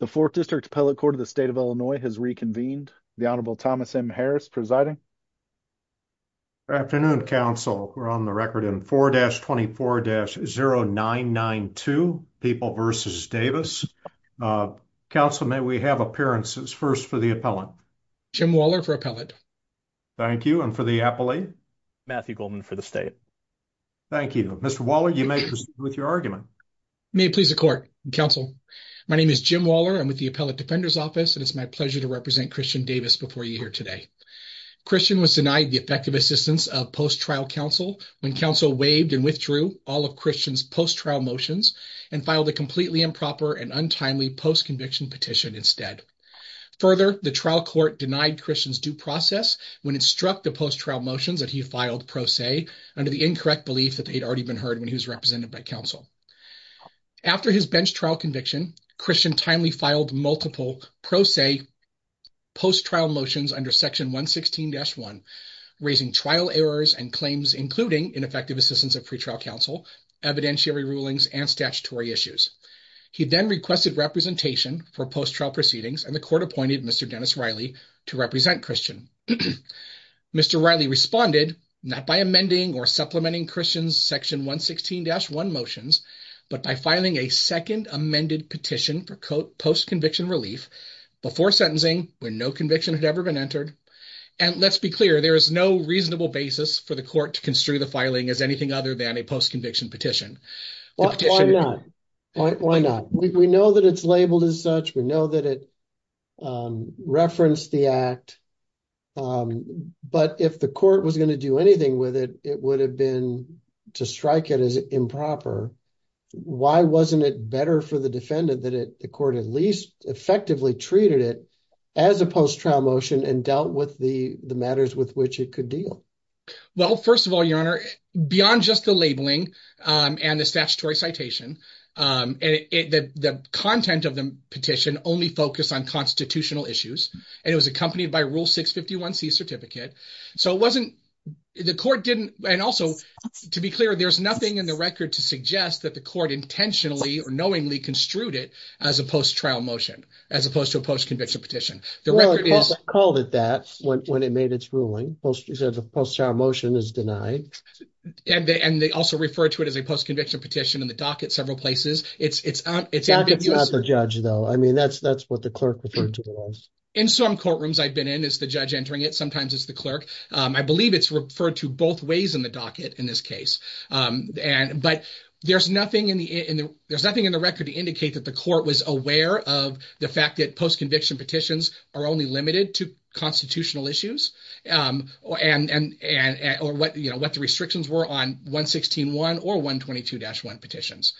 The 4th District Appellate Court of the State of Illinois has reconvened. The Honorable Thomas M. Harris presiding. Good afternoon, counsel. We're on the record in 4-24-0992, People v. Davis. Counsel, may we have appearances first for the appellant? Jim Waller for appellate. Thank you. And for the appellate? Matthew Goldman for the state. Thank you. Mr. Waller, you may proceed with your argument. May it please the court, counsel. My name is Jim Waller. I'm with the Appellate Defender's Office, and it's my pleasure to represent Christian Davis before you here today. Christian was denied the effective assistance of post-trial counsel when counsel waived and withdrew all of Christian's post-trial motions and filed a completely improper and untimely post-conviction petition instead. Further, the trial court denied Christian's due process when it struck the post-trial motions that he filed pro se under the incorrect belief that they'd already been heard when he was represented by counsel. After his bench trial conviction, Christian timely filed multiple pro se post-trial motions under Section 116-1, raising trial errors and claims, including ineffective assistance of pretrial counsel, evidentiary rulings, and statutory issues. He then requested representation for post-trial proceedings, and the court appointed Mr. Dennis Riley to represent Christian. Mr. Riley responded, not by amending or supplementing Christian's Section 116-1 motions, but by filing a second amended petition for post-conviction relief before sentencing when no conviction had ever been entered. And let's be clear, there is no reasonable basis for the court to construe the filing as anything other than a post-conviction petition. Why not? Why not? We know that it's labeled as such. We know that it referenced the Act. But if the court was going to do anything with it, it would have been to strike it as improper. Why wasn't it better for the defendant that the court at least effectively treated it as a post-trial motion and dealt with the matters with which it could deal? Well, first of all, your honor, beyond just the labeling and the statutory citation, and the content of the petition only focused on constitutional issues, and it was accompanied by Rule 651C certificate. So it wasn't, the court didn't, and also, to be clear, there's nothing in the record to suggest that the court intentionally or knowingly construed it as a post-trial motion, as opposed to a post-conviction petition. The record is... Well, it called it that when it made its ruling. Post-trial motion is denied. And they also refer to it as a post-conviction petition in the docket several places. It's... It's not the judge though. I mean, that's what the clerk referred to it as. In some courtrooms I've been in, it's the judge entering it. Sometimes it's the clerk. I believe it's referred to both ways in the docket in this case. But there's nothing in the record to indicate that the court was aware of the fact that post-conviction petitions are only limited to constitutional issues, or what the restrictions were on 116.1 or 122-1 petitions.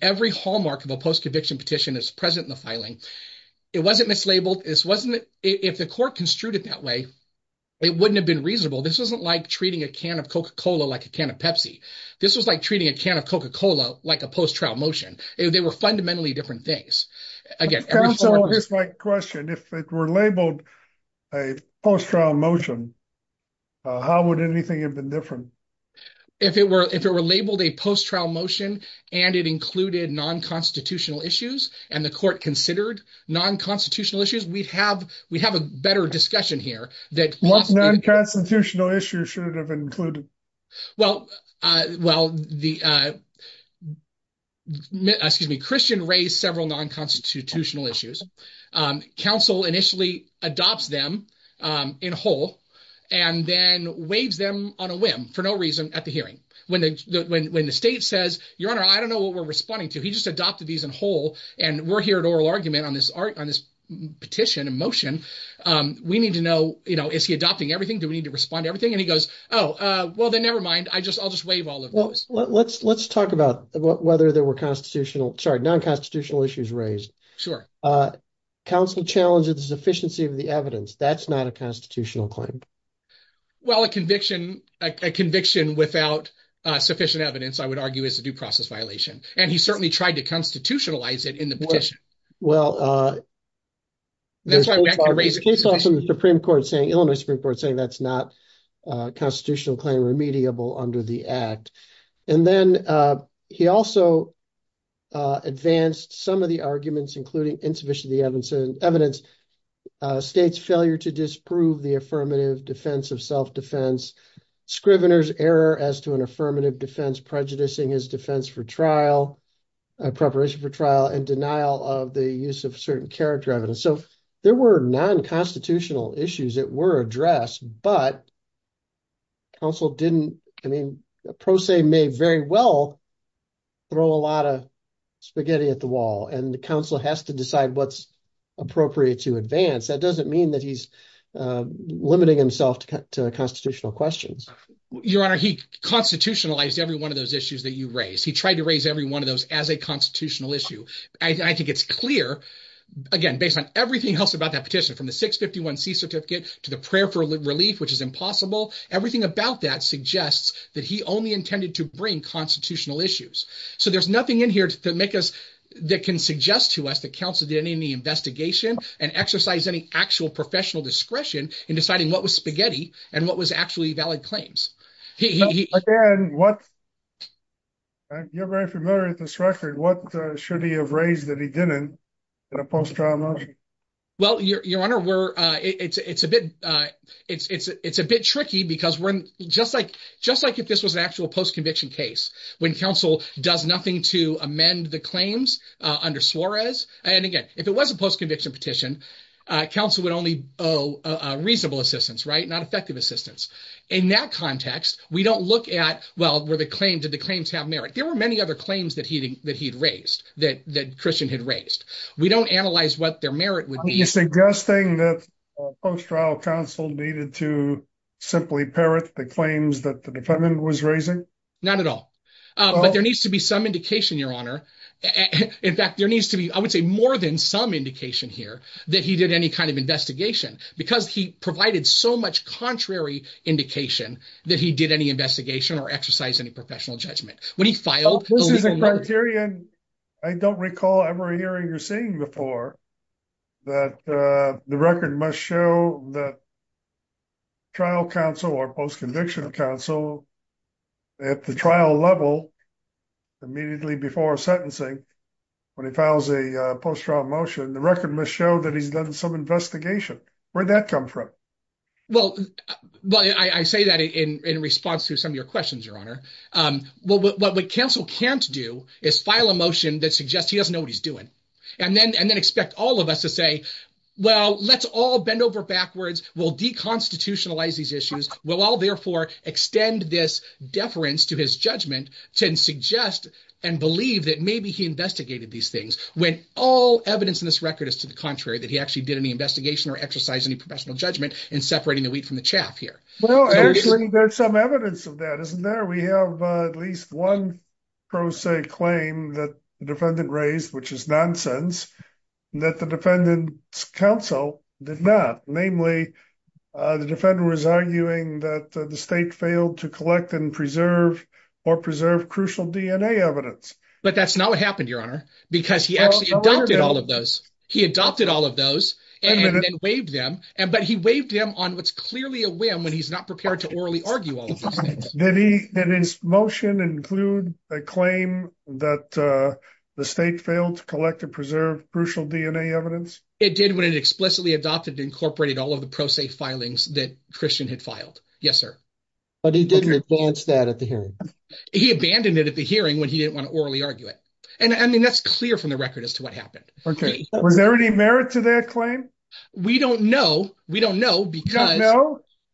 Every hallmark of a post-conviction petition is present in the filing. It wasn't mislabeled. This wasn't... If the court construed it that way, it wouldn't have been reasonable. This wasn't like treating a can of Coca-Cola like a can of Pepsi. This was like treating a can of Coca-Cola like a post-trial motion. They were fundamentally different things. Again, every court... That's also my question. If it were labeled a post-trial motion, how would anything have been different? If it were labeled a post-trial motion, and it included non-constitutional issues, and the court considered non-constitutional issues, we'd have a better discussion here. What non-constitutional issues should it have included? Well, Christian raised several non-constitutional issues. Counsel initially adopts them in whole, and then waives them on a whim for no reason at the hearing. When the state says, your honor, I don't know what we're responding to. He just adopted these in whole, and we're here at oral argument on this petition in motion. We need to know, is he adopting everything? Do we need to respond to everything? And he goes, oh, well, then never mind. I'll just waive all of those. Well, let's talk about whether there were non-constitutional issues raised. Counsel challenges the sufficiency of the evidence. That's not a constitutional claim. Well, a conviction without sufficient evidence, I would argue, is a due process violation. And he certainly tried to constitutionalize it in the petition. Well, there's case law from the Illinois Supreme Court saying that's not a constitutional claim remediable under the act. And then he also advanced some of the arguments, including insufficient evidence, state's failure to disprove the affirmative defense of self-defense, Scrivener's error as to an affirmative defense, prejudicing his defense for trial, preparation for trial, and denial of the use of certain character evidence. So there were non-constitutional issues that were addressed, but counsel didn't, I mean, a pro se may very well throw a lot of spaghetti at the wall, and the counsel has to decide what's appropriate to advance. That doesn't mean that he's limiting himself to constitutional questions. Your Honor, he constitutionalized every one of those issues that you raised. He tried to raise every one of those as a constitutional issue. I think it's clear, again, based on everything else about that petition, from the 651c certificate to the prayer for relief, which is impossible, everything about that suggests that he only intended to bring constitutional issues. So there's nothing in here that can suggest to us that counsel did any investigation and exercise any actual professional discretion in deciding what was spaghetti and what was actually valid claims. You're very familiar with this record, what should he have raised that he didn't in a post-trial motion? Well, Your Honor, it's a bit tricky because just like if this was an actual post-conviction case, when counsel does nothing to amend the claims under Suarez, and again, if it was a post-conviction petition, counsel would only owe reasonable assistance, not effective assistance. In that context, we don't look at, well, did the claims have merit? There were many other claims that he'd raised, that Christian had raised. We don't analyze what their merit would be. Suggesting that post-trial counsel needed to simply parrot the claims that the defendant was raising? Not at all. But there needs to be some indication, Your Honor. In fact, there needs to be, I would say more than some indication here that he did any kind of investigation because he provided so much contrary indication that he did any investigation or exercise any professional judgment. When he filed- This is a criterion I don't recall ever hearing or seeing before that the record must show that trial counsel or post-conviction counsel at the trial level immediately before sentencing, when he files a post-trial motion, the record must show that he's done some investigation. Where'd that come from? Well, I say that in response to some of your questions, Your Honor. What counsel can't do is file a motion that suggests he doesn't know he's doing and then expect all of us to say, well, let's all bend over backwards. We'll deconstitutionalize these issues. We'll all therefore extend this deference to his judgment to suggest and believe that maybe he investigated these things when all evidence in this record is to the contrary, that he actually did any investigation or exercise any professional judgment in separating the wheat from the chaff here. Well, actually, there's some evidence of that, isn't there? We have at least one pro se claim that the defendant raised, which is nonsense, that the defendant's counsel did not. Namely, the defendant was arguing that the state failed to collect and preserve or preserve crucial DNA evidence. But that's not what happened, Your Honor, because he actually adopted all of those. He adopted all of those and then waived them, but he waived them on what's clearly a whim when he's not prepared to orally argue Did his motion include a claim that the state failed to collect and preserve crucial DNA evidence? It did when it explicitly adopted, incorporated all of the pro se filings that Christian had filed. Yes, sir. But he didn't advance that at the hearing. He abandoned it at the hearing when he didn't want to orally argue it. And I mean, that's clear from the record as to what happened. Okay. Was there any merit to that claim? We don't know. We don't know because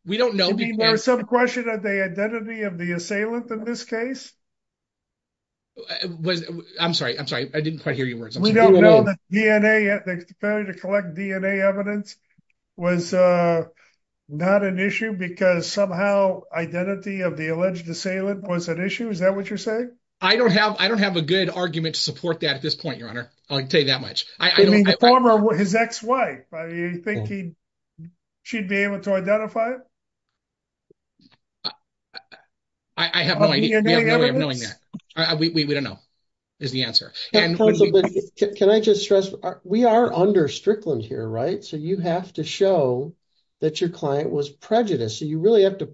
we don't know. There's some question of the identity of the assailant in this case. I'm sorry. I'm sorry. I didn't quite hear you. We don't know the DNA. The failure to collect DNA evidence was not an issue because somehow identity of the alleged assailant was an issue. Is that what you're saying? I don't have I don't have a good argument to support that at this point, I'll tell you that much. I mean, the former was his ex-wife. I mean, you think he should be able to identify it? I have no idea. We don't know is the answer. Can I just stress we are under Strickland here, right? So you have to show that your client was prejudiced. So you really have to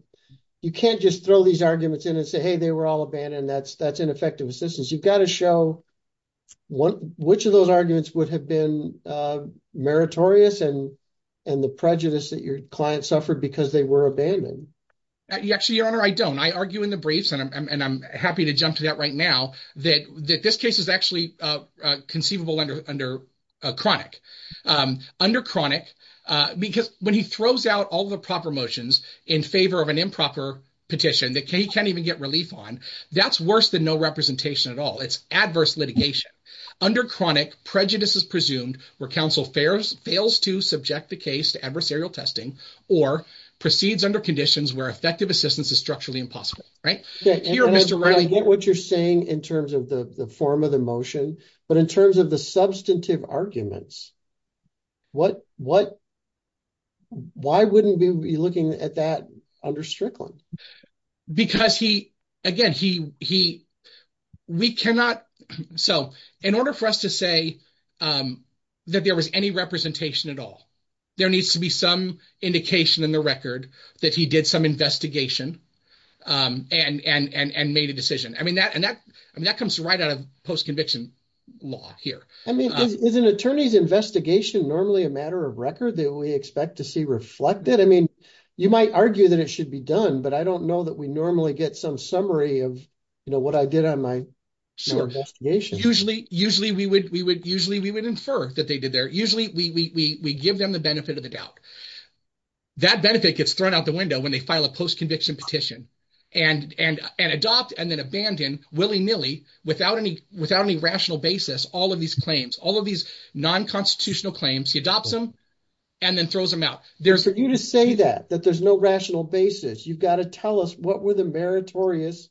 you can't just throw these arguments in and say, hey, they were all abandoned. That's ineffective assistance. You've got to show which of those arguments would have been meritorious and the prejudice that your client suffered because they were abandoned. Actually, your honor, I don't. I argue in the briefs and I'm happy to jump to that right now that this case is actually conceivable under under chronic. Under chronic because when he throws out all the proper motions in favor of improper petition that he can't even get relief on, that's worse than no representation at all. It's adverse litigation under chronic prejudice is presumed where counsel fails to subject the case to adversarial testing or proceeds under conditions where effective assistance is structurally impossible. Right here, Mr. Riley, what you're saying in terms of the form of the motion, but in terms of the substantive arguments, what what why wouldn't we be looking at that under Strickland? Because he again, he he we cannot. So in order for us to say that there was any representation at all, there needs to be some indication in the record that he did some investigation and and made a decision. I mean, that and that I mean, that comes right out of post conviction law here. I mean, is an attorney's investigation normally a matter of that we expect to see reflected? I mean, you might argue that it should be done, but I don't know that we normally get some summary of what I did on my investigation. Usually, usually we would we would usually we would infer that they did their usually we we give them the benefit of the doubt. That benefit gets thrown out the window when they file a post conviction petition and and and adopt and then abandon willy nilly without any without any basis. All of these claims, all of these non constitutional claims, he adopts them and then throws them out. There's for you to say that that there's no rational basis. You've got to tell us what were the meritorious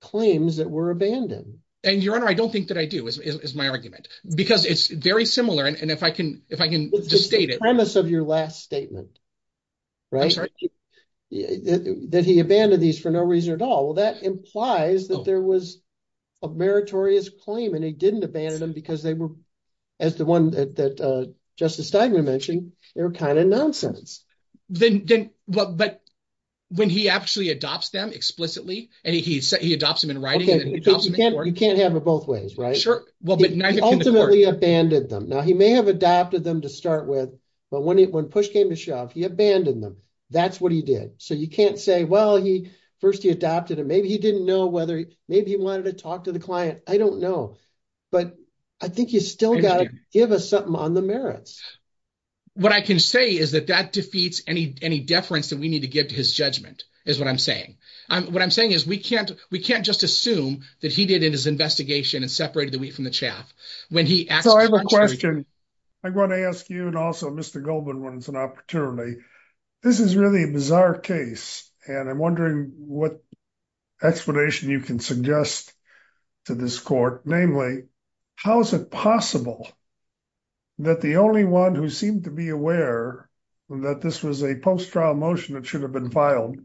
claims that were abandoned. And your honor, I don't think that I do is my argument because it's very similar. And if I can, if I can just state it premise of your last statement, right? That he abandoned these for no reason at all. Well, that implies that there was a meritorious claim and he didn't abandon them because they were as the one that Justice Steigman mentioned, they're kind of nonsense. Then, but when he actually adopts them explicitly and he said he adopts them in writing. You can't have it both ways, right? Sure. Well, but ultimately abandoned them. Now, he may have adopted them to start with. But when it when push came to shove, he abandoned them. That's what he did. So you can't say, well, he first he adopted it. Maybe he didn't know whether maybe he wanted to talk to the client. I don't know. But I think you still got to give us something on the merits. What I can say is that that defeats any deference that we need to give to his judgment is what I'm saying. What I'm saying is we can't just assume that he did in his investigation and separated the wheat from the chaff when he asked. So I have a question. I'm going to ask you and also Mr. Goldman when it's an opportunity. This is really a bizarre case. And I'm wondering what explanation you can suggest to this court, namely, how is it possible that the only one who seemed to be aware that this was a post-trial motion that should have been filed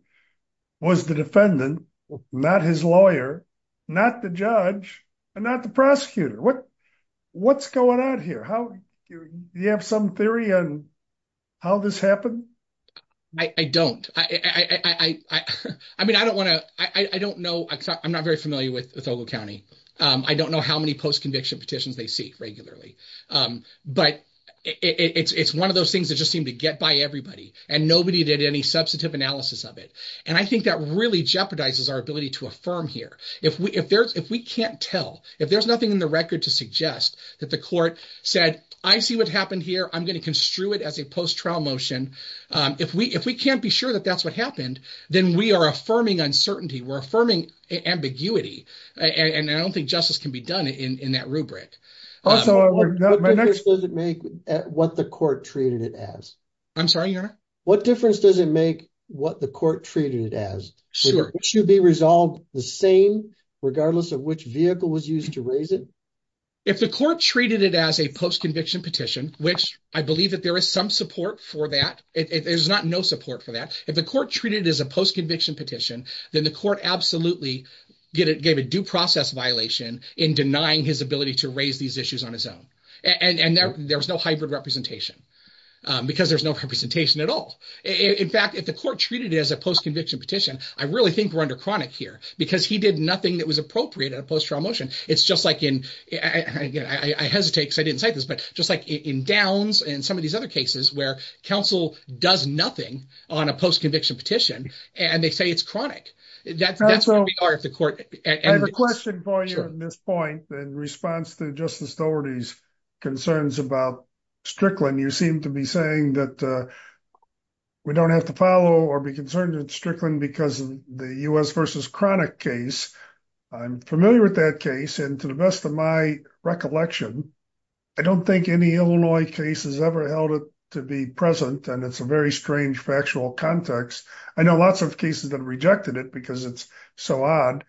was the defendant, not his lawyer, not the judge, and not the prosecutor. What's going on here? Do you have some theory on how this happened? I don't. I mean, I don't want to, I don't know. I'm not very familiar with Ogle County. I don't know how many post-conviction petitions they seek regularly. But it's one of those things that just seem to get by everybody. And nobody did any substantive analysis of it. And I think that really jeopardizes our ability to affirm here. If we can't tell, if there's nothing in the record to suggest that the court said, I see what happened here. I'm going to construe it as a post-trial motion. If we can't be sure that that's what happened, then we are affirming uncertainty. We're affirming ambiguity. And I don't think justice can be done in that rubric. Also, what difference does it make what the court treated it as? I'm sorry, Your Honor? What difference does it make what the court treated it as? Sure. Should it be resolved the same regardless of which vehicle was used to raise it? If the court treated it as a post-conviction petition, which I believe that there is some support for that. There's not no support for that. If the court treated it as a post-conviction petition, then the court absolutely gave a due process violation in denying his ability to raise these issues on his own. And there was no hybrid representation because there's no representation at all. In fact, if the court treated it as a post-conviction petition, I really think we're under chronic here because he did nothing that was appropriate at a post-trial motion. It's just like in, I hesitate because I didn't say this, but just like in Downs and some of these other cases where counsel does nothing on a post-conviction petition, and they say it's chronic. That's where we are at the court. I have a question for you on this point in response to Justice Doherty's concerns about Strickland. You seem to be saying that we don't have to follow or be concerned with Strickland because of the U.S. versus chronic case. I'm familiar with that case. And to the best of my recollection, I don't think any Illinois case has ever held it to be present. And it's a very strange factual context. I know lots of cases that have rejected it because it's so odd.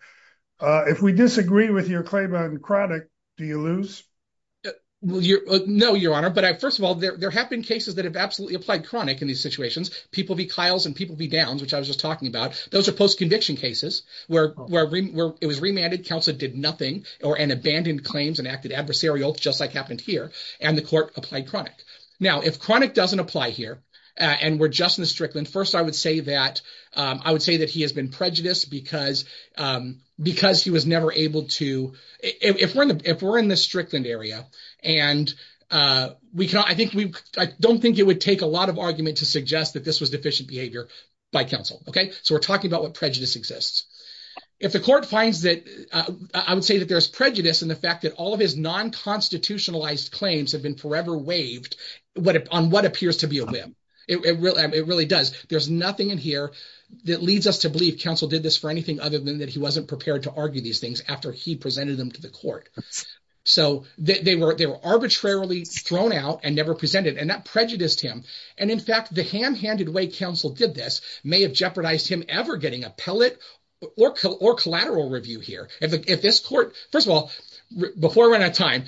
If we disagree with your claim on chronic, do you lose? Well, no, Your Honor. But first of all, there have been cases that have absolutely applied chronic in these situations. People v. Kiles and people v. Downs, which I was just talking about, those are post-conviction cases where it was remanded, counsel did nothing, or an abandoned claims and acted adversarial, just like happened here. And the court applied chronic. Now, if chronic doesn't apply here, and we're just in the Strickland, first, I would say that he has been prejudiced because he was never able to, if we're in the Strickland area, and I don't think it would take a lot of argument to suggest that this was deficient behavior by counsel. So we're talking about what prejudice exists. If the court finds that, I would say that there's prejudice in the fact that all of his non-constitutionalized claims have been forever waived on what appears to be a whim. It really does. There's nothing in here that leads us to believe counsel did this for anything other than that he wasn't prepared to argue these things after he presented them to the court. So they were arbitrarily thrown out and never presented, and that prejudiced him. And in fact, the ham-handed way counsel did this may have jeopardized him ever getting a pellet or collateral review here. If this court, first of all, before we run out of time,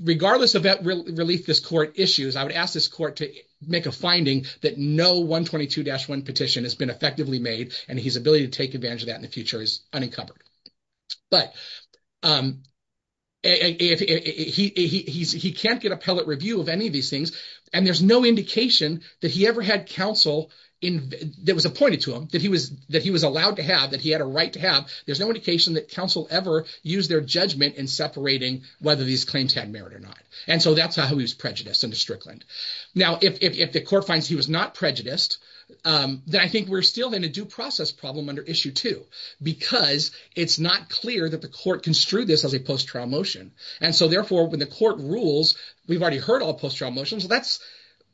regardless of that relief this court issues, I would ask this court to make a finding that no 122-1 petition has been effectively made, and his ability to take but he can't get a pellet review of any of these things, and there's no indication that he ever had counsel that was appointed to him, that he was allowed to have, that he had a right to have. There's no indication that counsel ever used their judgment in separating whether these claims had merit or not. And so that's how he was prejudiced under Strickland. Now if the court finds he was not prejudiced, then I think we're still in a due process problem under issue two, because it's not clear that the court construed this as a post-trial motion. And so therefore when the court rules, we've already heard all post-trial motions, that's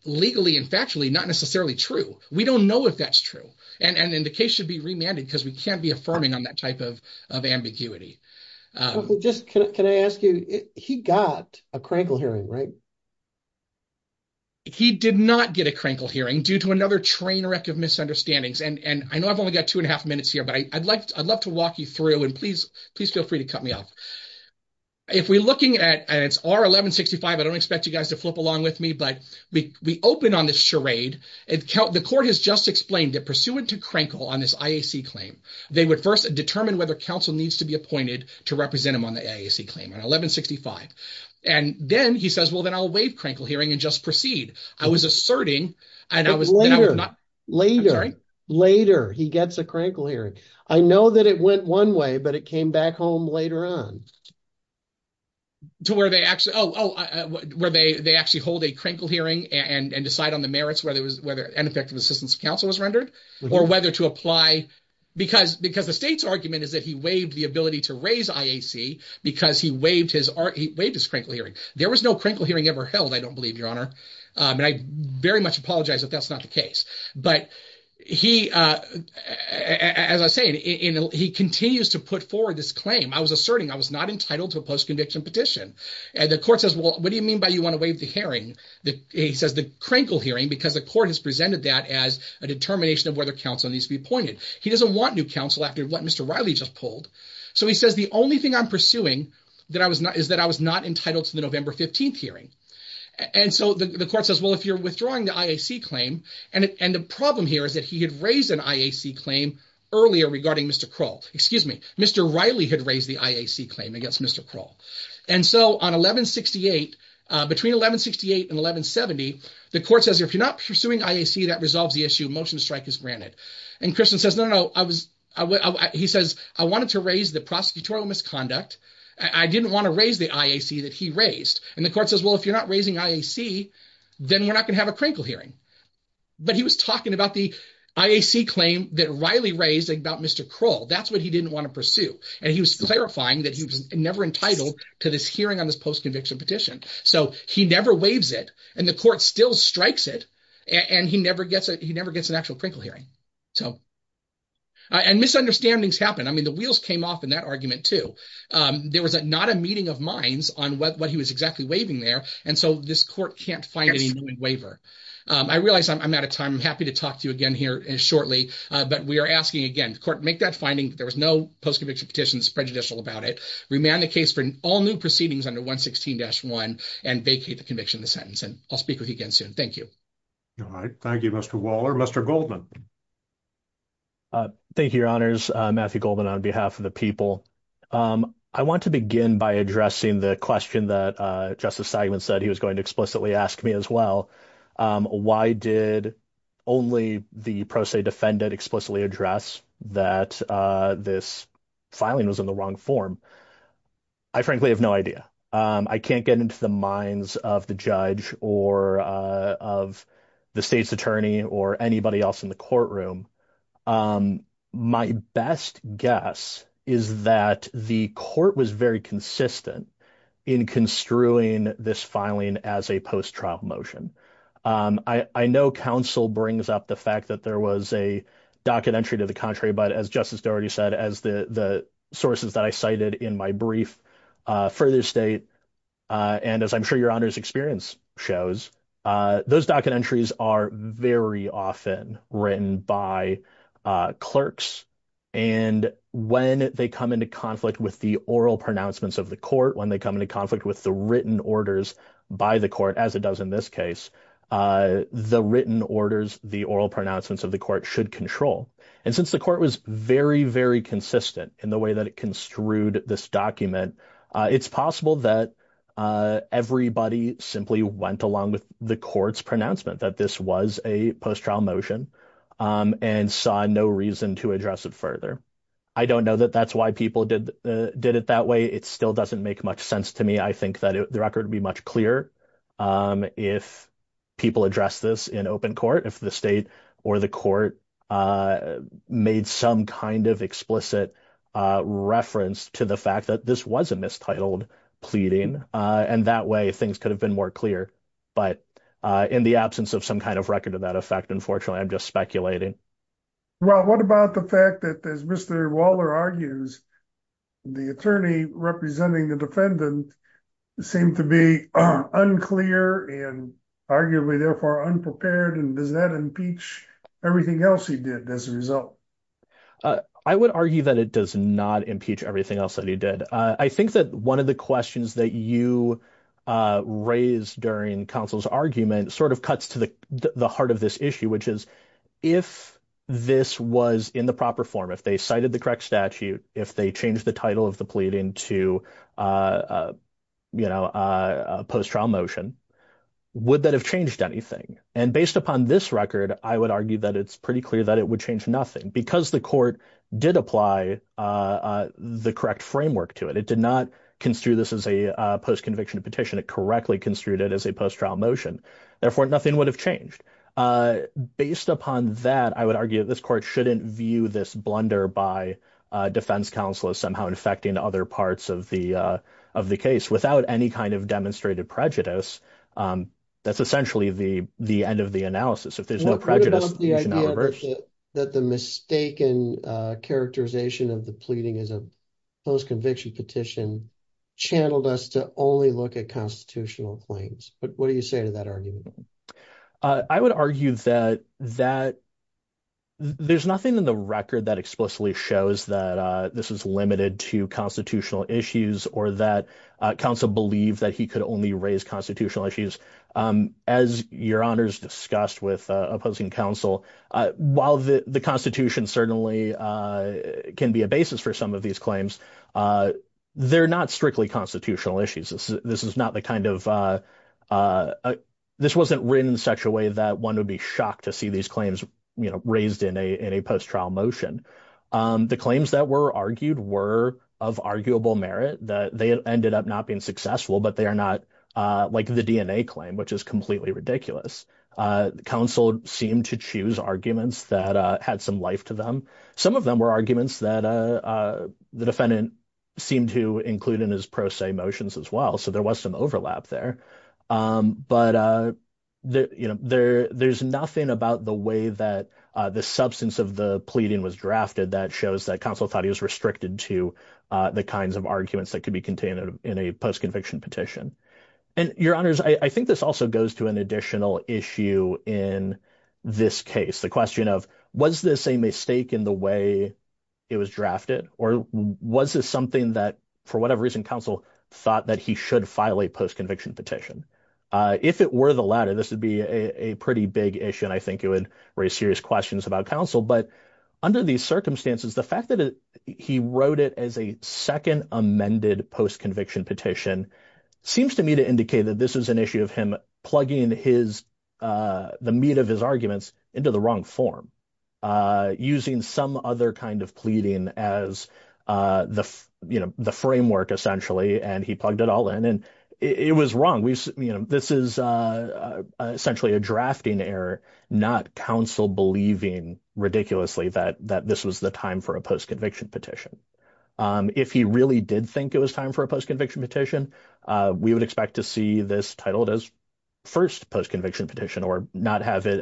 legally and factually not necessarily true. We don't know if that's true, and the case should be remanded because we can't be affirming on that type of ambiguity. Just can I ask you, he got a crankle hearing, right? He did not get a crankle hearing due to another train wreck of misunderstandings, and I know I've only got two and a half minutes here, but I'd love to walk you through, and please feel free to cut me off. If we're looking at, and it's R-1165, I don't expect you guys to flip along with me, but we open on this charade. The court has just explained that pursuant to crankle on this IAC claim, they would first determine whether counsel needs to be appointed to represent him on the IAC claim on 1165. And then he says, well then I'll waive crankle hearing and just proceed. I was asserting, and then I was not. Later, later he gets a crankle hearing. I know that it went one way, but it came back home later on. To where they actually, oh, where they actually hold a crankle hearing and decide on the merits whether ineffective assistance of counsel was rendered, or whether to apply, because the state's argument is that he waived the ability to raise IAC because he waived his crankle hearing. There was no crankle hearing ever held, I don't believe, Your Honor. And I very much apologize if that's not the case. But he, as I was saying, he continues to put forward this claim. I was asserting I was not entitled to a post-conviction petition. And the court says, well, what do you mean by you want to waive the hearing? He says the crankle hearing because the court has presented that as a determination of whether counsel needs to be appointed. He doesn't want new counsel after what Mr. Riley just pulled. So he says the only thing I'm pursuing is that I was not entitled to the November 15th hearing. And so the court says, well, if you're withdrawing the IAC claim, and the problem here is that he had raised an IAC claim earlier regarding Mr. Kroll. Excuse me, Mr. Riley had raised the IAC claim against Mr. Kroll. And so on 1168, between 1168 and 1170, the court says, if you're not pursuing IAC, that resolves the issue. Motion to strike is granted. And Christian says, no, no, I was, he says, I wanted to raise the prosecutorial misconduct. I didn't want to raise the IAC that he raised. And the court says, well, if you're not raising IAC, then we're not going to have a crankle hearing. But he was talking about the IAC claim that Riley raised about Mr. Kroll. That's what he didn't want to pursue. And he was clarifying that he was never entitled to this hearing on this post-conviction petition. So he never waives it, and the court still strikes it, and he never gets an actual crankle hearing. So, and misunderstandings happen. I mean, the wheels came off in that argument too. There was not a meeting of minds on what he was exactly waiving there. And so this court can't find any known waiver. I realize I'm out of time. I'm happy to talk to you again here shortly. But we are asking again, the court, make that finding that there was no post-conviction petition that's prejudicial about it. Remand the case for all new proceedings under 116-1, and vacate the conviction of the sentence. And I'll speak with you again soon. Thank you. All right. Thank you, Mr. Waller. Mr. Goldman. Thank you, Your Honors. Matthew Goldman on behalf of the people. I want to begin by addressing the question that Justice Seidman said he was going to explicitly ask me as well. Why did only the pro se defendant explicitly address that this filing was in the wrong form? I frankly have no idea. I can't get into the minds of the judge or of the state's attorney or anybody else in the courtroom. My best guess is that the court was very consistent in construing this filing as a post-trial motion. I know counsel brings up the fact that there was a docket entry to the contrary, but as Justice Doherty said, as the sources that I cited in my brief further state, and as I'm sure Your Honors experience shows, those docket entries are very often written by clerks. And when they come into conflict with the oral pronouncements of the court, when they come into conflict with the written orders by the court, as it does in this case, the written orders, the oral pronouncements of the court should control. And since the court was very, very consistent in the way that it construed this document, it's possible that everybody simply went along with the court's pronouncement that this was a post-trial motion and saw no reason to address it further. I don't know that that's why people did it that way. It still doesn't make much sense to me. I think that the record would be much clearer if people address this in open court, if the state or the court made some kind of explicit reference to the fact that this was a mistitled pleading, and that way things could have been more clear. But in the absence of some kind of record of that effect, unfortunately, I'm just speculating. Well, what about the fact that, as Mr. Waller argues, the attorney representing the defendant seemed to be unclear and arguably therefore unprepared, and does that impeach everything else he did as a result? I would argue that it does not impeach everything else that he did. I think that one of the questions that you raised during counsel's argument sort of cuts to the heart of this issue, which is if this was in the proper form, if they cited the correct statute, if they changed the title of the pleading to a post-trial motion, would that have changed anything? And based upon this record, I would argue that it's pretty clear that it would change nothing, because the court did apply the correct framework to it. It did not construe this as a post-conviction petition. It correctly construed it as a post-trial motion. Therefore, nothing would have changed. Based upon that, I would argue that this court shouldn't view this blunder by defense counsel as somehow infecting other parts of the case without any kind of demonstrated prejudice. That's essentially the end of the analysis. If there's no prejudice, there's no reverse. What about the idea that the mistaken characterization of the pleading as a post-conviction petition channeled us to only look at constitutional claims? What do you say to that argument? I would argue that there's nothing in the record that explicitly shows that this is limited to constitutional issues or that counsel believed that he could only raise constitutional issues. As your honors discussed with opposing counsel, while the constitution certainly can be a basis for some of these claims, they're not strictly constitutional issues. This wasn't written in such a way that one would be shocked to see these claims raised in a post-trial motion. The claims that were argued were of arguable merit. They ended up not being successful, but they are not like the DNA claim, which is completely ridiculous. Counsel seemed to choose arguments that had some life to them. Some of them were arguments that the defendant seemed to include in his pro se motions as well, so there was some overlap there. There's nothing about the way that the substance of the pleading was drafted that shows that counsel thought he was restricted to the kinds of arguments that could be contained in a post-conviction petition. Your honors, I think this also goes to an additional issue in this case, the question of was this a mistake in the way it was drafted or was this something that, for whatever reason, counsel thought that he should file a post-conviction petition. If it were the latter, this would be a pretty big issue and I think it would raise serious questions about counsel, but under these circumstances, the fact that he wrote it as a second amended post-conviction petition seems to me to indicate that this is an issue of him plugging the meat of his arguments into the wrong form, using some other kind of pleading as the framework essentially, and he plugged it all in and it was wrong. This is essentially a drafting error, not counsel believing ridiculously that this was the time for a post-conviction petition. If he really did think it was time for a post-conviction petition, we would expect to see this titled as first post-conviction petition or not have it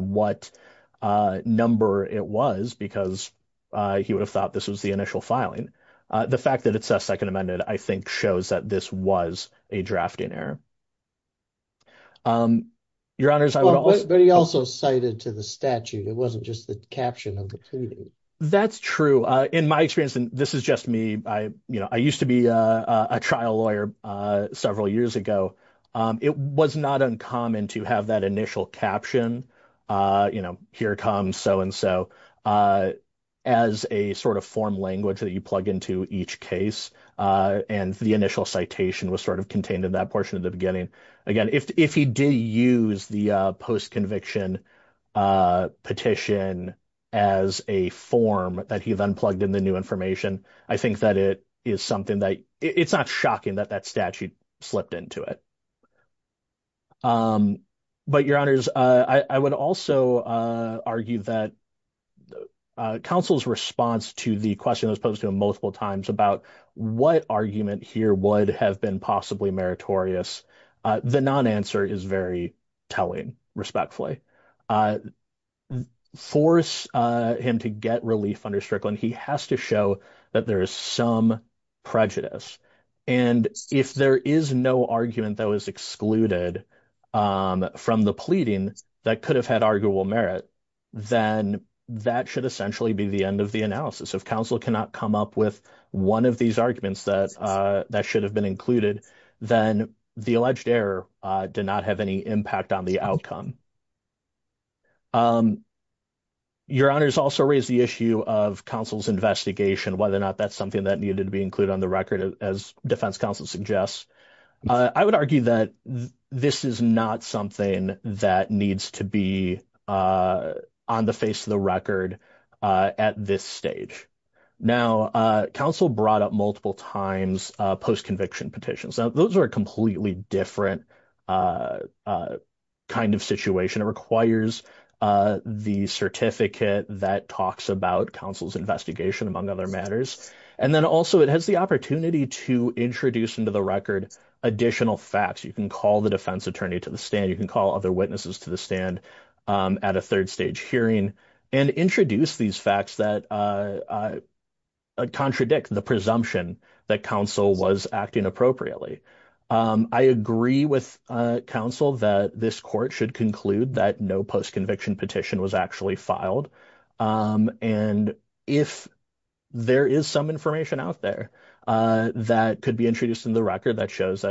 what number it was because he would have thought this was the initial filing. The fact that it's a second amended, I think shows that this was a drafting error. Your honors, I would also- But he also cited to the statute, it wasn't just the caption of the petition. That's true. In my experience, and this is just me, I used to be a trial lawyer several years ago. It was not uncommon to have that initial caption, here comes so-and-so, as a form language that you plug into each case. The initial citation was contained in that portion of the beginning. Again, if he did use the post-conviction petition as a form that he then plugged in the new information, I think that it is something that- It's not shocking that that statute slipped into it. But your honors, I would also argue that counsel's response to the question that was posed to him multiple times about what argument here would have been possibly meritorious, the non-answer is very telling, respectfully. Force him to get relief under Strickland, he has to show that there is some prejudice. If there is no argument that was excluded from the pleading that could have had arguable merit, then that should essentially be the end of the analysis. If counsel cannot come up with one of these arguments that should have been included, then the alleged error did not have any impact on the outcome. Your honors also raised the issue of counsel's investigation, whether or not that's something that needed to be included on the record, as defense counsel suggests. I would argue that this is not something that needs to be on the face of the record at this stage. Now, counsel brought up multiple times post-conviction petitions. Now, those are a completely different a kind of situation. It requires the certificate that talks about counsel's investigation, among other matters. And then also it has the opportunity to introduce into the record additional facts. You can call the defense attorney to the stand. You can call other witnesses to the stand at a third stage hearing and introduce these facts that contradict the presumption that counsel was acting appropriately. I agree with counsel that this court should conclude that no post-conviction petition was actually filed. And if there is some information out there that could be introduced in the record that shows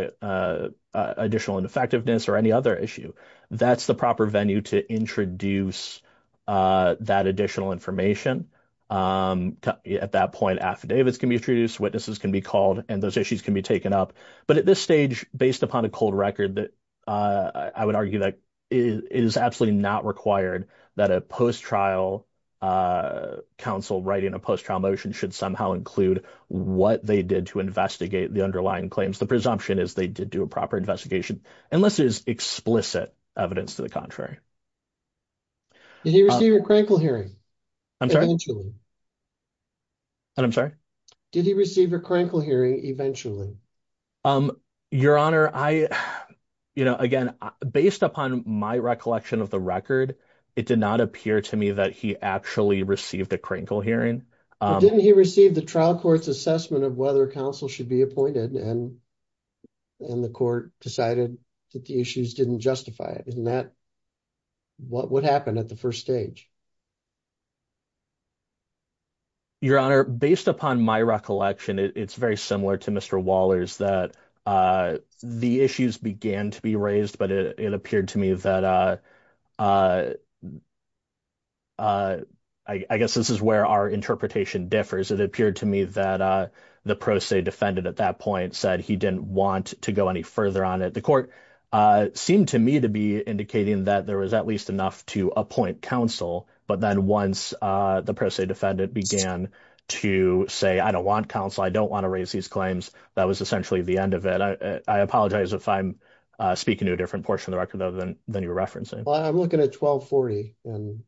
additional ineffectiveness or any other issue, that's the proper venue to introduce that additional information. At that point, affidavits can be introduced, witnesses can be called, and those issues can be taken up. But at this stage, based upon a cold record, I would argue that it is absolutely not required that a post-trial counsel writing a post-trial motion should somehow include what they did to investigate the underlying claims. The presumption is they did do a proper investigation, unless it is explicit evidence to the contrary. Did he receive a crankle hearing? I'm sorry? I'm sorry? Did he receive a crankle hearing eventually? Your Honor, I, you know, again, based upon my recollection of the record, it did not appear to me that he actually received a crankle hearing. But didn't he receive the trial court's assessment of whether counsel should be appointed and the court decided that the issues didn't justify it? Isn't that what would happen at the first stage? Your Honor, based upon my recollection, it's very similar to Mr. Waller's that the issues began to be raised, but it appeared to me that, I guess this is where our interpretation differs. It appeared to me that the pro se defendant at that point said he didn't want to go any further on it. The court seemed to me to be indicating that there was at least enough to appoint counsel, but then once the pro se defendant began to say, I don't want counsel, I don't want to raise these claims, that was essentially the end of it. I apologize if I'm speaking to a different portion of the record than you were referencing. Well, I'm looking at 1240, and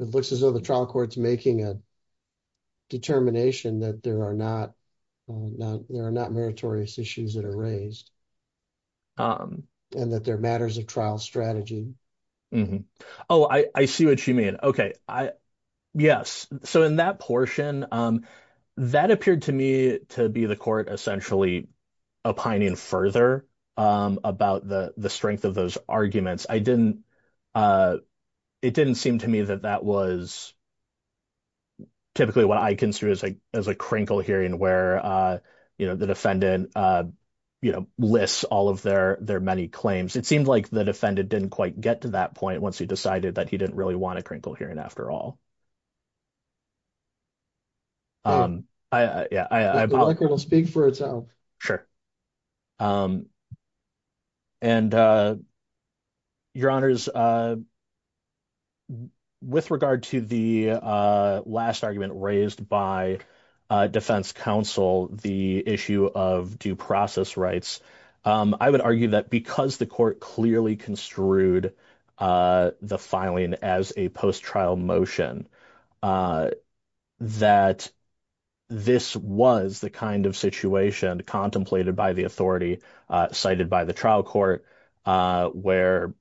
it looks as though the there are not meritorious issues that are raised and that they're matters of trial strategy. Oh, I see what you mean. Okay. Yes. So in that portion, that appeared to me to be the court essentially opining further about the strength of those arguments. It didn't seem to me that that was typically what I consider as a crinkle hearing where the defendant lists all of their many claims. It seemed like the defendant didn't quite get to that point once he decided that he didn't really want a crinkle hearing after all. The record will speak for itself. Sure. And your honors, with regard to the last argument raised by defense counsel, the issue of due process rights, I would argue that because the court clearly construed the filing as a post trial motion, that this was the kind of situation contemplated by the authority cited by the trial court where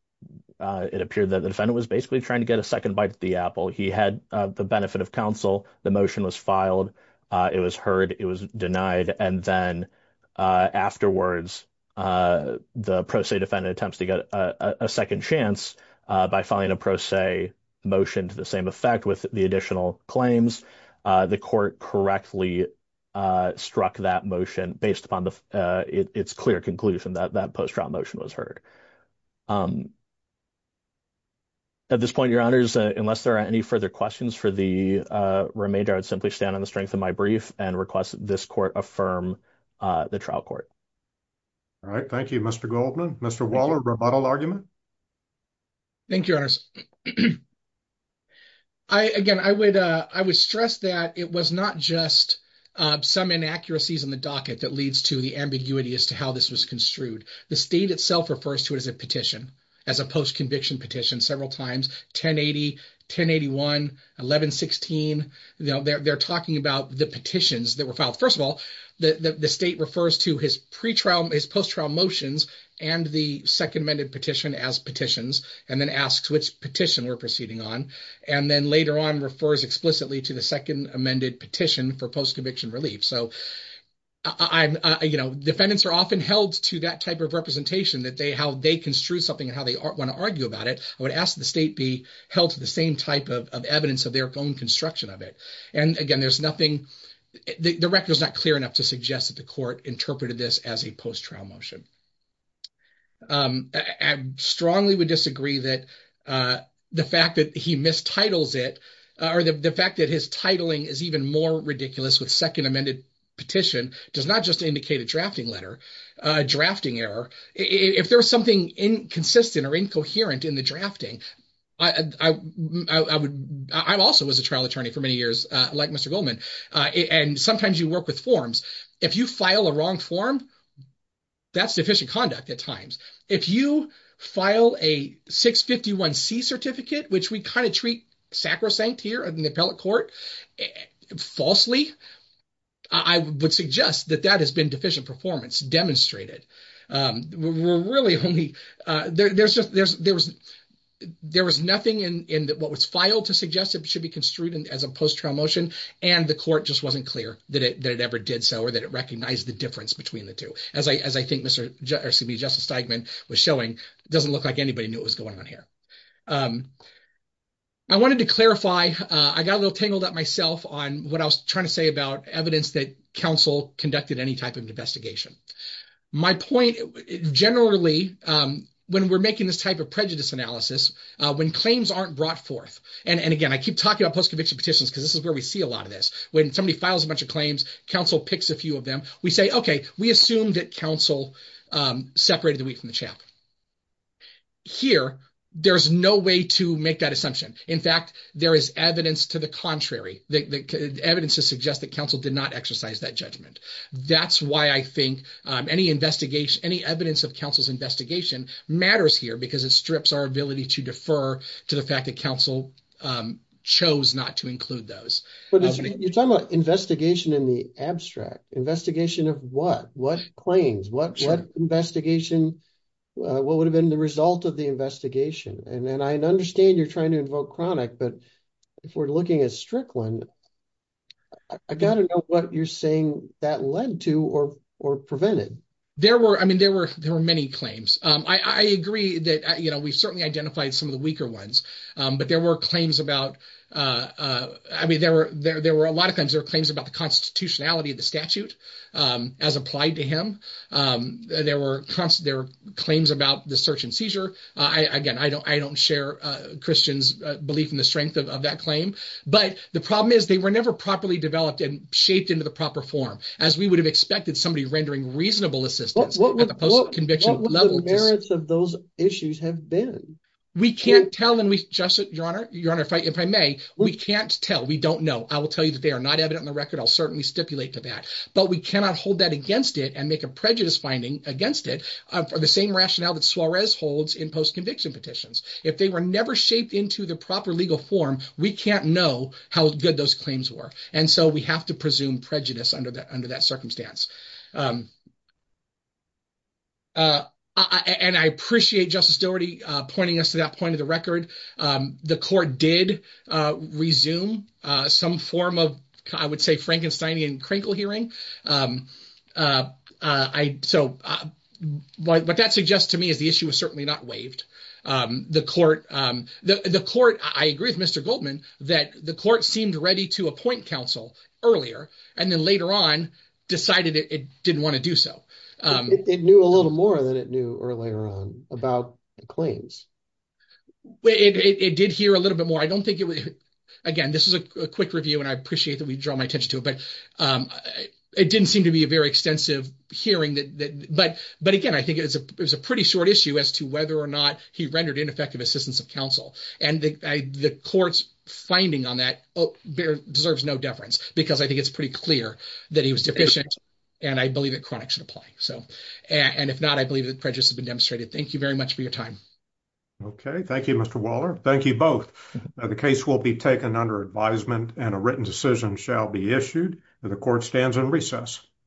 it appeared that the defendant was basically trying to get a second bite at the apple. He had the benefit of counsel. The motion was filed. It was heard. It was denied. And then afterwards, the pro se defendant attempts to get a second chance by filing a pro se motion to the same effect with the additional claims. The court correctly struck that motion based upon its clear conclusion that that post trial motion was heard. At this point, your honors, unless there are any further questions for the remainder, I would simply stand on the strength of my brief and request that this court affirm the trial court. All right. Thank you, Mr. Goldman. Mr. Waller, rebuttal argument. Thank you, your honors. Again, I would stress that it was not just some inaccuracies in the docket that leads to the ambiguity as to how this was construed. The state itself refers to it as a petition, as a post conviction petition several times, 1080, 1081, 1116. They're talking about the petitions that were filed. First of all, the state refers to his post trial motions and the second amended petition as petitions, and then asks which petition we're proceeding on. And then later on refers explicitly to the second amended petition for post conviction relief. So defendants are often held to that type of representation that how they construe something and how they want to argue about it. I would ask the state be held to the same type of evidence of their own construction of it. And again, the record is not clear enough to suggest that the court interpreted this as a post trial motion. I strongly would disagree that the fact that he mistitles it or the fact that his titling is even more ridiculous with second amended petition does not just indicate a drafting error. If there's something inconsistent or incoherent in the drafting, I also was a trial attorney for many years, and sometimes you work with forms. If you file a wrong form, that's deficient conduct at times. If you file a 651C certificate, which we kind of treat sacrosanct here in the appellate court, falsely, I would suggest that that has been deficient performance demonstrated. There was nothing in what was filed to suggest it should be construed as a post trial motion. The court just wasn't clear that it ever did so, or that it recognized the difference between the two. As I think Justice Steigman was showing, it doesn't look like anybody knew what was going on here. I wanted to clarify, I got a little tangled up myself on what I was trying to say about evidence that counsel conducted any type of investigation. My point, generally, when we're making this type of prejudice analysis, when claims aren't brought forth, and again, I keep talking about post-conviction petitions because this is where we see a lot of this, when somebody files a bunch of claims, counsel picks a few of them, we say, okay, we assume that counsel separated the wheat from the chaff. Here, there's no way to make that assumption. In fact, there is evidence to the contrary, evidence to suggest that counsel did not exercise that judgment. That's why I think any investigation, any evidence of counsel's investigation matters here because it strips our ability to defer to the fact that counsel chose not to include those. But you're talking about investigation in the abstract, investigation of what, what claims, what investigation, what would have been the result of the investigation? And I understand you're trying to invoke chronic, but if we're looking at Strickland, I got to know what you're saying that led to or, or prevented. There were, I mean, there were, there were many claims. I agree that, you know, we've certainly identified some of the weaker ones, but there were claims about, I mean, there were, there were a lot of times there were claims about the constitutionality of the statute as applied to him. There were constant, there were claims about the search and seizure. I, again, I don't, I don't share Christian's belief in the strength of that claim, but the problem is they were never properly developed and shaped into the proper form, as we would have expected somebody rendering reasonable assistance at the post-conviction level. What would the merits of those issues have been? We can't tell, and we, Justice, Your Honor, Your Honor, if I, if I may, we can't tell. We don't know. I will tell you that they are not evident on the record. I'll certainly stipulate to that, but we cannot hold that against it and make a prejudice finding against it for the same rationale that Suarez holds in post-conviction petitions. If they were never shaped into the proper legal form, we can't know how good those claims were, and so we have to presume prejudice under that, under that circumstance. And I appreciate Justice Doherty pointing us to that point of the record. The court did resume some form of, I would say, Frankensteinian crinkle hearing. I, so what that suggests to me is the issue was certainly not waived. The court, the court, I agree with Mr. Goldman, that the court seemed ready to appoint counsel earlier, and then later on decided it didn't want to do so. It knew a little more than it knew earlier on about the claims. It did hear a little bit more. I don't think it would, again, this is a quick review, and I appreciate that we draw my attention to it, but it didn't seem to be a very extensive hearing that, but again, I think it was a pretty short issue as to whether or not he rendered ineffective assistance of counsel. And the court's finding on that deserves no deference, because I think it's pretty clear that he was deficient, and I believe that chronic should apply. So, and if not, I believe that prejudice has been demonstrated. Thank you very much for your time. Okay. Thank you, Mr. Waller. Thank you both. The case will be taken under advisement, and a written decision shall be issued. The court stands on recess.